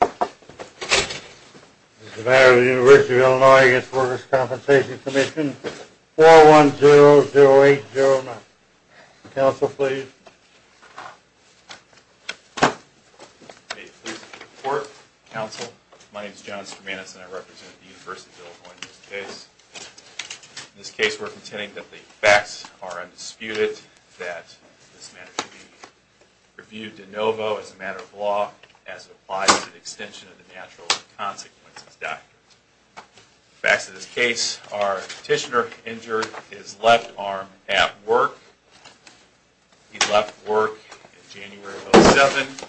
As a matter of the University of Illinois v. Workers' Compensation Commission, 4100809. Counsel, please. May it please the court, counsel, my name is John Skourmanis and I represent the University of Illinois in this case. In this case we are pretending that the facts are undisputed, that this matter should be reviewed de novo as a matter of law, as it applies to the extension of the natural consequences doctrine. The facts of this case are the petitioner injured his left arm at work. He left work in January of 2007.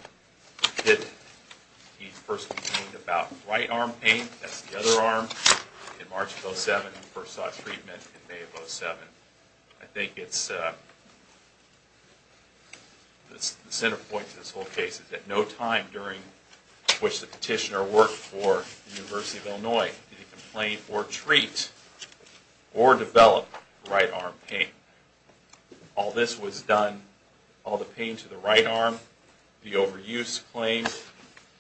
He first complained about right arm pain, that's the other arm, in March of 2007. He first sought treatment in May of 2007. I think it's, the center point to this whole case is that no time during which the petitioner worked for the University of Illinois did he complain or treat or develop right arm pain. All this was done, all the pain to the right arm, the overuse claim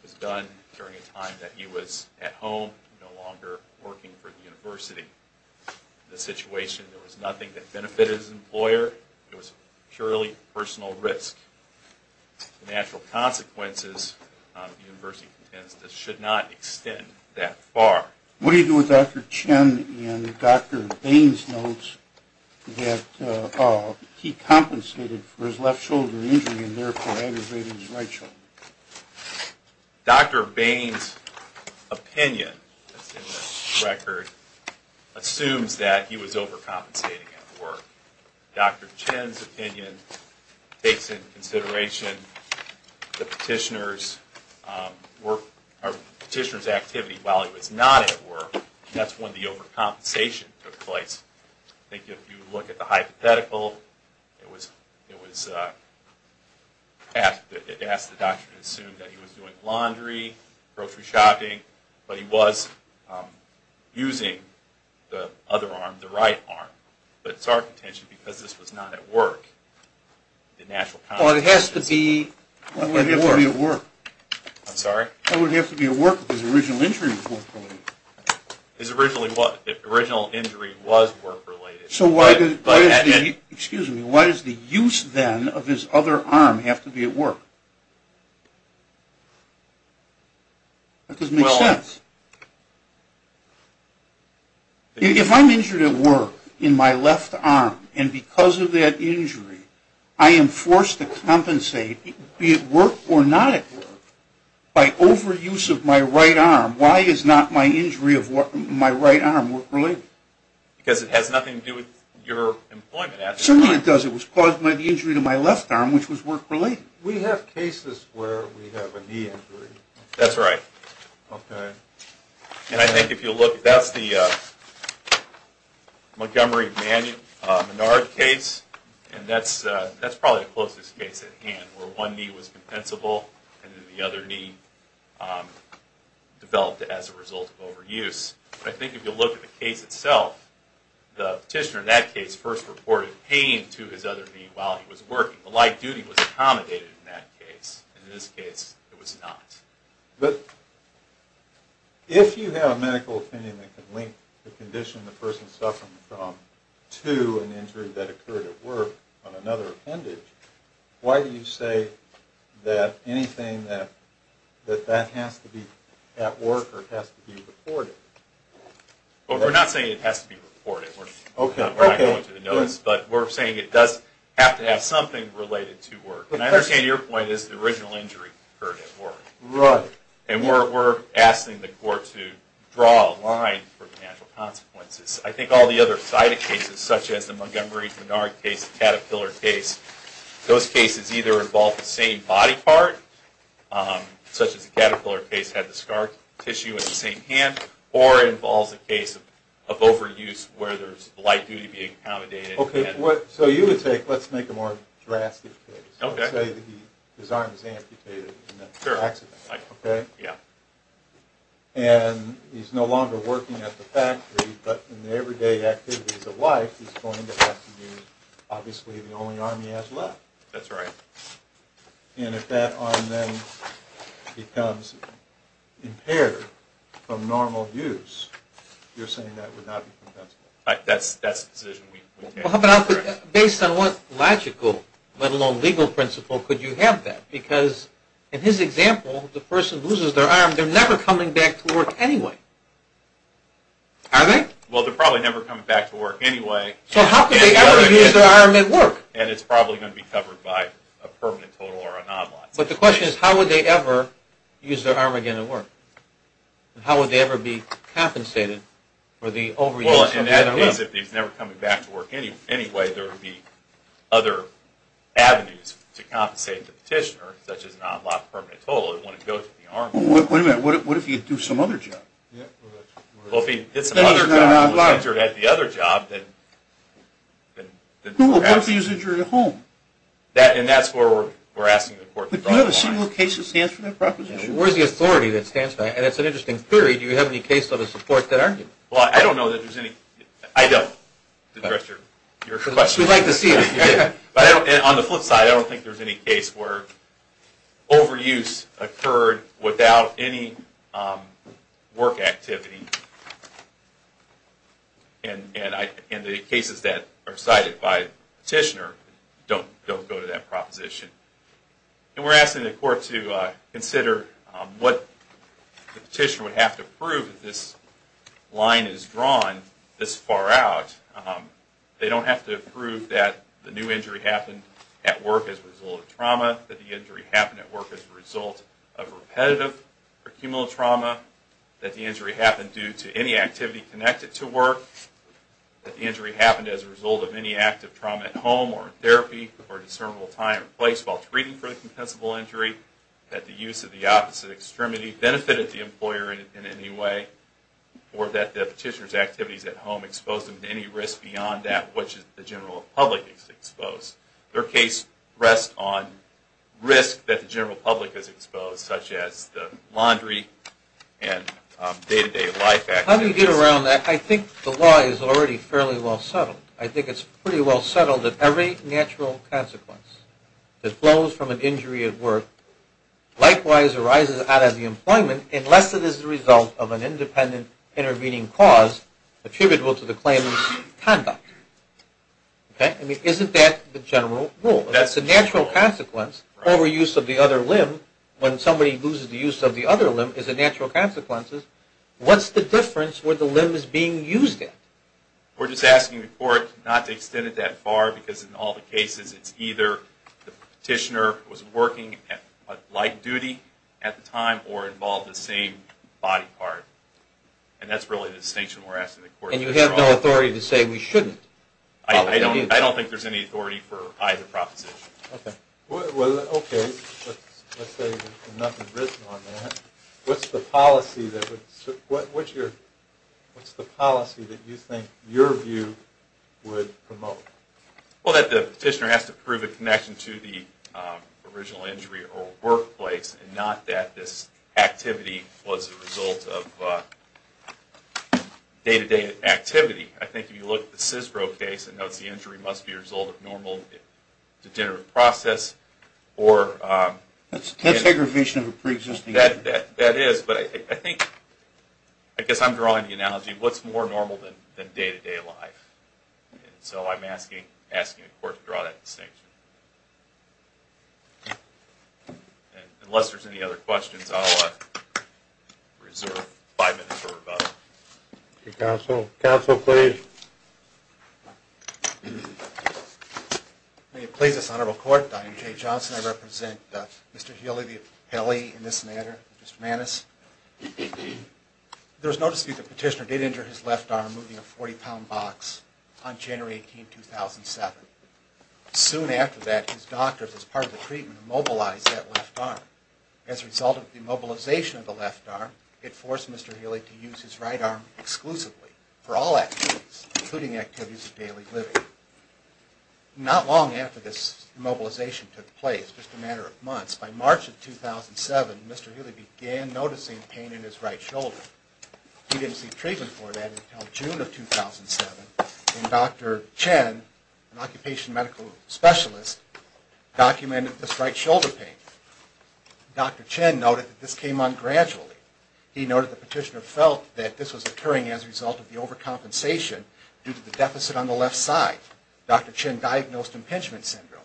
was done during a time that he was at home, no longer working for the University. In this situation there was nothing that benefited his employer, it was purely personal risk. The natural consequences, the University contends, should not extend that far. What do you do with Dr. Chen and Dr. Bain's notes that he compensated for his left shoulder injury and therefore aggravated his right shoulder? Dr. Bain's opinion in this record assumes that he was overcompensating at work. Dr. Chen's opinion takes into consideration the petitioner's activity while he was not at work, and that's when the overcompensation took place. I think if you look at the hypothetical, it was asked that the doctor assume that he was doing laundry, grocery shopping, but he was using the other arm, the right arm. But it's our contention because this was not at work, the natural consequences. Well it has to be at work. I'm sorry? It would have to be at work if his original injury was not permanent. His original injury was work related. So why does the use then of his other arm have to be at work? That doesn't make sense. If I'm injured at work in my left arm, and because of that injury I am forced to compensate, be it work or not at work, by overuse of my right arm, why is not my injury of my right arm work related? Because it has nothing to do with your employment. Certainly it does. It was caused by the injury to my left arm, which was work related. We have cases where we have a knee injury. That's right. And I think if you look, that's the Montgomery Manard case, and that's probably the closest case at hand, where one knee was compensable and then the other knee developed as a result of overuse. But I think if you look at the case itself, the petitioner in that case first reported pain to his other knee while he was working. The light duty was accommodated in that case, and in this case it was not. But if you have a medical opinion that can link the condition the person is suffering from to an injury that occurred at work on another appendage, why do you say that anything that has to be at work or has to be reported? We're not saying it has to be reported. Okay. We're saying it does have to have something related to work. And I understand your point is the original injury occurred at work. Right. And we're asking the court to draw a line for financial consequences. I think all the other cited cases, such as the Montgomery Manard case, the Caterpillar case, those cases either involve the same body part, such as the Caterpillar case had the scar tissue in the same hand, or it involves a case of overuse where there's light duty being accommodated. Okay. So you would say, let's make a more drastic case. Okay. Let's say that his arm is amputated in an accident, okay? Yeah. And he's no longer working at the factory, but in the everyday activities of life he's going to have to use obviously the only arm he has left. That's right. And if that arm then becomes impaired from normal use, you're saying that would not be compensable? That's the decision we take. Based on what logical, let alone legal principle, could you have that? Because in his example, the person loses their arm, they're never coming back to work anyway. Are they? Well, they're probably never coming back to work anyway. So how could they ever use their arm at work? And it's probably going to be covered by a permanent total or a non-line. But the question is, how would they ever use their arm again at work? Well, in that case, if he's never coming back to work anyway, there would be other avenues to compensate the petitioner, such as a non-block permanent total. Wait a minute. What if he had to do some other job? Well, if he did some other job and was injured at the other job, then perhaps... Who would want to use injury at home? And that's where we're asking the court to draw the line. But do you have a single case that stands for that proposition? Where's the authority that stands by it? And it's an interesting theory. Do you have any case that supports that argument? Well, I don't know that there's any... I don't. We'd like to see it. On the flip side, I don't think there's any case where overuse occurred without any work activity. And the cases that are cited by the petitioner don't go to that proposition. And we're asking the court to consider what the petitioner would have to prove if this line is drawn this far out. They don't have to prove that the new injury happened at work as a result of trauma, that the injury happened at work as a result of repetitive or cumulative trauma, that the injury happened due to any activity connected to work, that the injury happened as a result of any active trauma at home or therapy or discernible time and place while treating for the compensable injury, that the use of the opposite extremity benefited the employer in any way, or that the petitioner's activities at home exposed them to any risk beyond that which the general public is exposed. Their case rests on risk that the general public is exposed, such as the laundry and day-to-day life activities. How do you get around that? I think the law is already fairly well settled. I think it's pretty well settled that every natural consequence that flows from an injury at work, likewise arises out of the employment unless it is the result of an independent intervening cause attributable to the claimant's conduct. Okay? I mean, isn't that the general rule? That's the natural consequence. Overuse of the other limb when somebody loses the use of the other limb is a natural consequence. What's the difference where the limb is being used at? We're just asking the court not to extend it that far because in all the cases, it's either the petitioner was working a light duty at the time or involved the same body part. And that's really the distinction we're asking the court to draw. And you have no authority to say we shouldn't? I don't think there's any authority for either proposition. Okay. Well, okay. Let's say there's nothing written on that. What's the policy that you think your view would promote? Well, that the petitioner has to prove a connection to the original injury or workplace and not that this activity was a result of day-to-day activity. I think if you look at the CISBRO case, it notes the injury must be a result of normal, degenerative process. That's aggravation of a pre-existing injury. That is, but I think, I guess I'm drawing the analogy, what's more normal than day-to-day life? And so I'm asking the court to draw that distinction. Unless there's any other questions, I'll reserve five minutes for rebuttal. Counsel, counsel, please. May it please this honorable court, Dr. J. Johnson, I represent Mr. Healy, the appellee in this matter, Mr. Maness. There was notice that the petitioner did injure his left arm moving a 40-pound box on January 18, 2007. Soon after that, his doctors, as part of the treatment, mobilized that left arm. As a result of the mobilization of the left arm, it forced Mr. Healy to use his right arm exclusively for all activities. Including activities of daily living. Not long after this mobilization took place, just a matter of months, by March of 2007, Mr. Healy began noticing pain in his right shoulder. He didn't see treatment for that until June of 2007. And Dr. Chen, an occupation medical specialist, documented this right shoulder pain. Dr. Chen noted that this came on gradually. He noted the petitioner felt that this was occurring as a result of the overcompensation due to the deficit on the left side. Dr. Chen diagnosed impingement syndrome.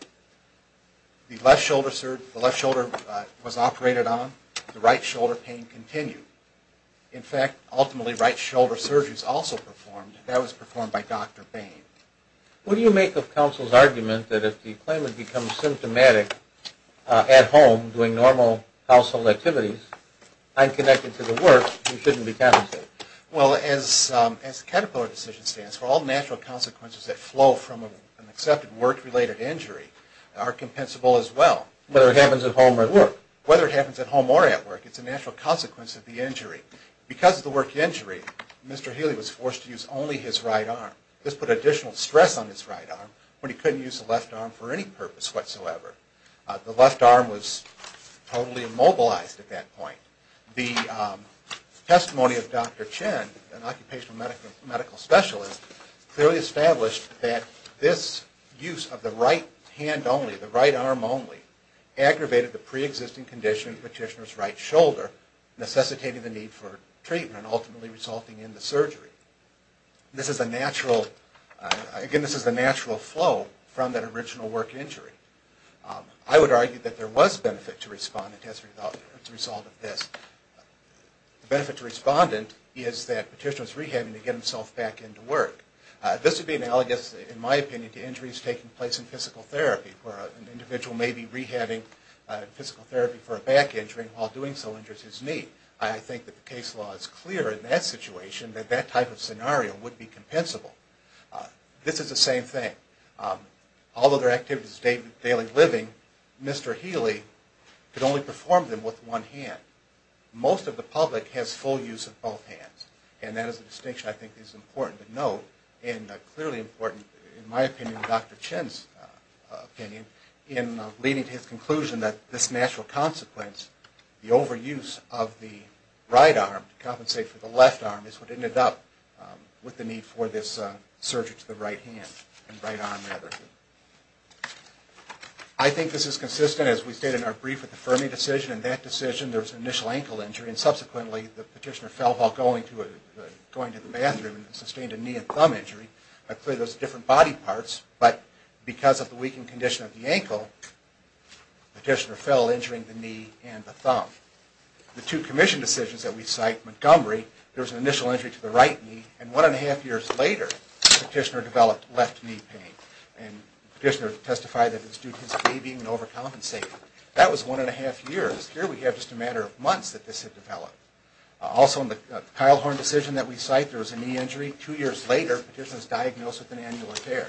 The left shoulder was operated on. The right shoulder pain continued. In fact, ultimately, right shoulder surgery was also performed. That was performed by Dr. Bain. What do you make of counsel's argument that if the claimant becomes symptomatic at home doing normal household activities, and connected to the work, he couldn't be penalized? Well, as the Caterpillar decision stands, for all natural consequences that flow from an accepted work-related injury are compensable as well. Whether it happens at home or at work? Whether it happens at home or at work, it's a natural consequence of the injury. Because of the work injury, Mr. Healy was forced to use only his right arm. This put additional stress on his right arm, when he couldn't use the left arm for any purpose whatsoever. The left arm was totally immobilized at that point. The testimony of Dr. Chen, an occupational medical specialist, clearly established that this use of the right hand only, the right arm only, aggravated the pre-existing condition in the petitioner's right shoulder, necessitating the need for treatment, and ultimately resulting in the surgery. This is a natural flow from that original work injury. I would argue that there was benefit to respondent as a result of this. The benefit to respondent is that petitioner was rehabbing to get himself back into work. This would be analogous, in my opinion, to injuries taking place in physical therapy, where an individual may be rehabbing in physical therapy for a back injury, and while doing so injures his knee. I think that the case law is clear in that situation that that type of scenario would be compensable. This is the same thing. Although their activity is daily living, Mr. Healy could only perform them with one hand. Most of the public has full use of both hands, and that is a distinction I think is important to note, and clearly important, in my opinion, and Dr. Chen's opinion, in leading to his conclusion that this natural consequence, the overuse of the right arm to compensate for the left arm, is what ended up with the need for this surgery to the right hand, and right arm, rather. I think this is consistent, as we stated in our brief, with the Fermi decision. In that decision, there was an initial ankle injury, and subsequently the petitioner fell while going to the bathroom and sustained a knee and thumb injury. Clearly, those are different body parts, but because of the weakened condition of the ankle, the petitioner fell, injuring the knee and the thumb. The two commission decisions that we cite, Montgomery, there was an initial injury to the right knee, and one and a half years later, the petitioner developed left knee pain, and the petitioner testified that it was due to his babying and overcompensating. That was one and a half years. Here we have just a matter of months that this had developed. Also, in the Keilhorn decision that we cite, there was a knee injury. Two years later, the petitioner was diagnosed with an annular tear.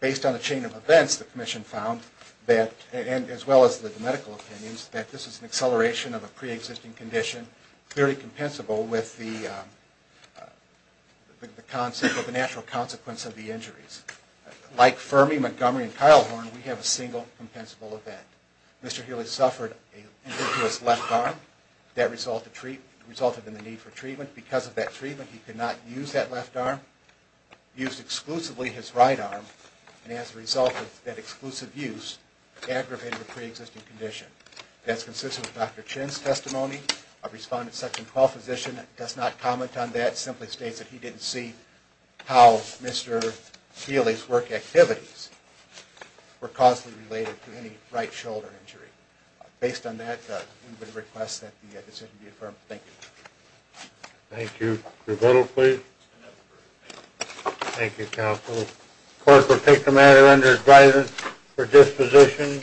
Based on a chain of events, the commission found that, as well as the medical opinions, that this is an acceleration of a pre-existing condition, clearly compensable with the natural consequence of the injuries. Like Fermi, Montgomery, and Keilhorn, we have a single compensable event. Mr. Healy suffered an injurious left arm that resulted in the need for treatment. Because of that treatment, he could not use that left arm. He used exclusively his right arm, and as a result of that exclusive use, That's consistent with Dr. Chin's testimony of responsibility for the injury. The correspondent, Section 12 physician, does not comment on that. Simply states that he didn't see how Mr. Healy's work activities were causally related to any right shoulder injury. Based on that, we would request that the decision be affirmed. Thank you. Thank you. Thank you, counsel. Court will take the matter under guidance for disposition.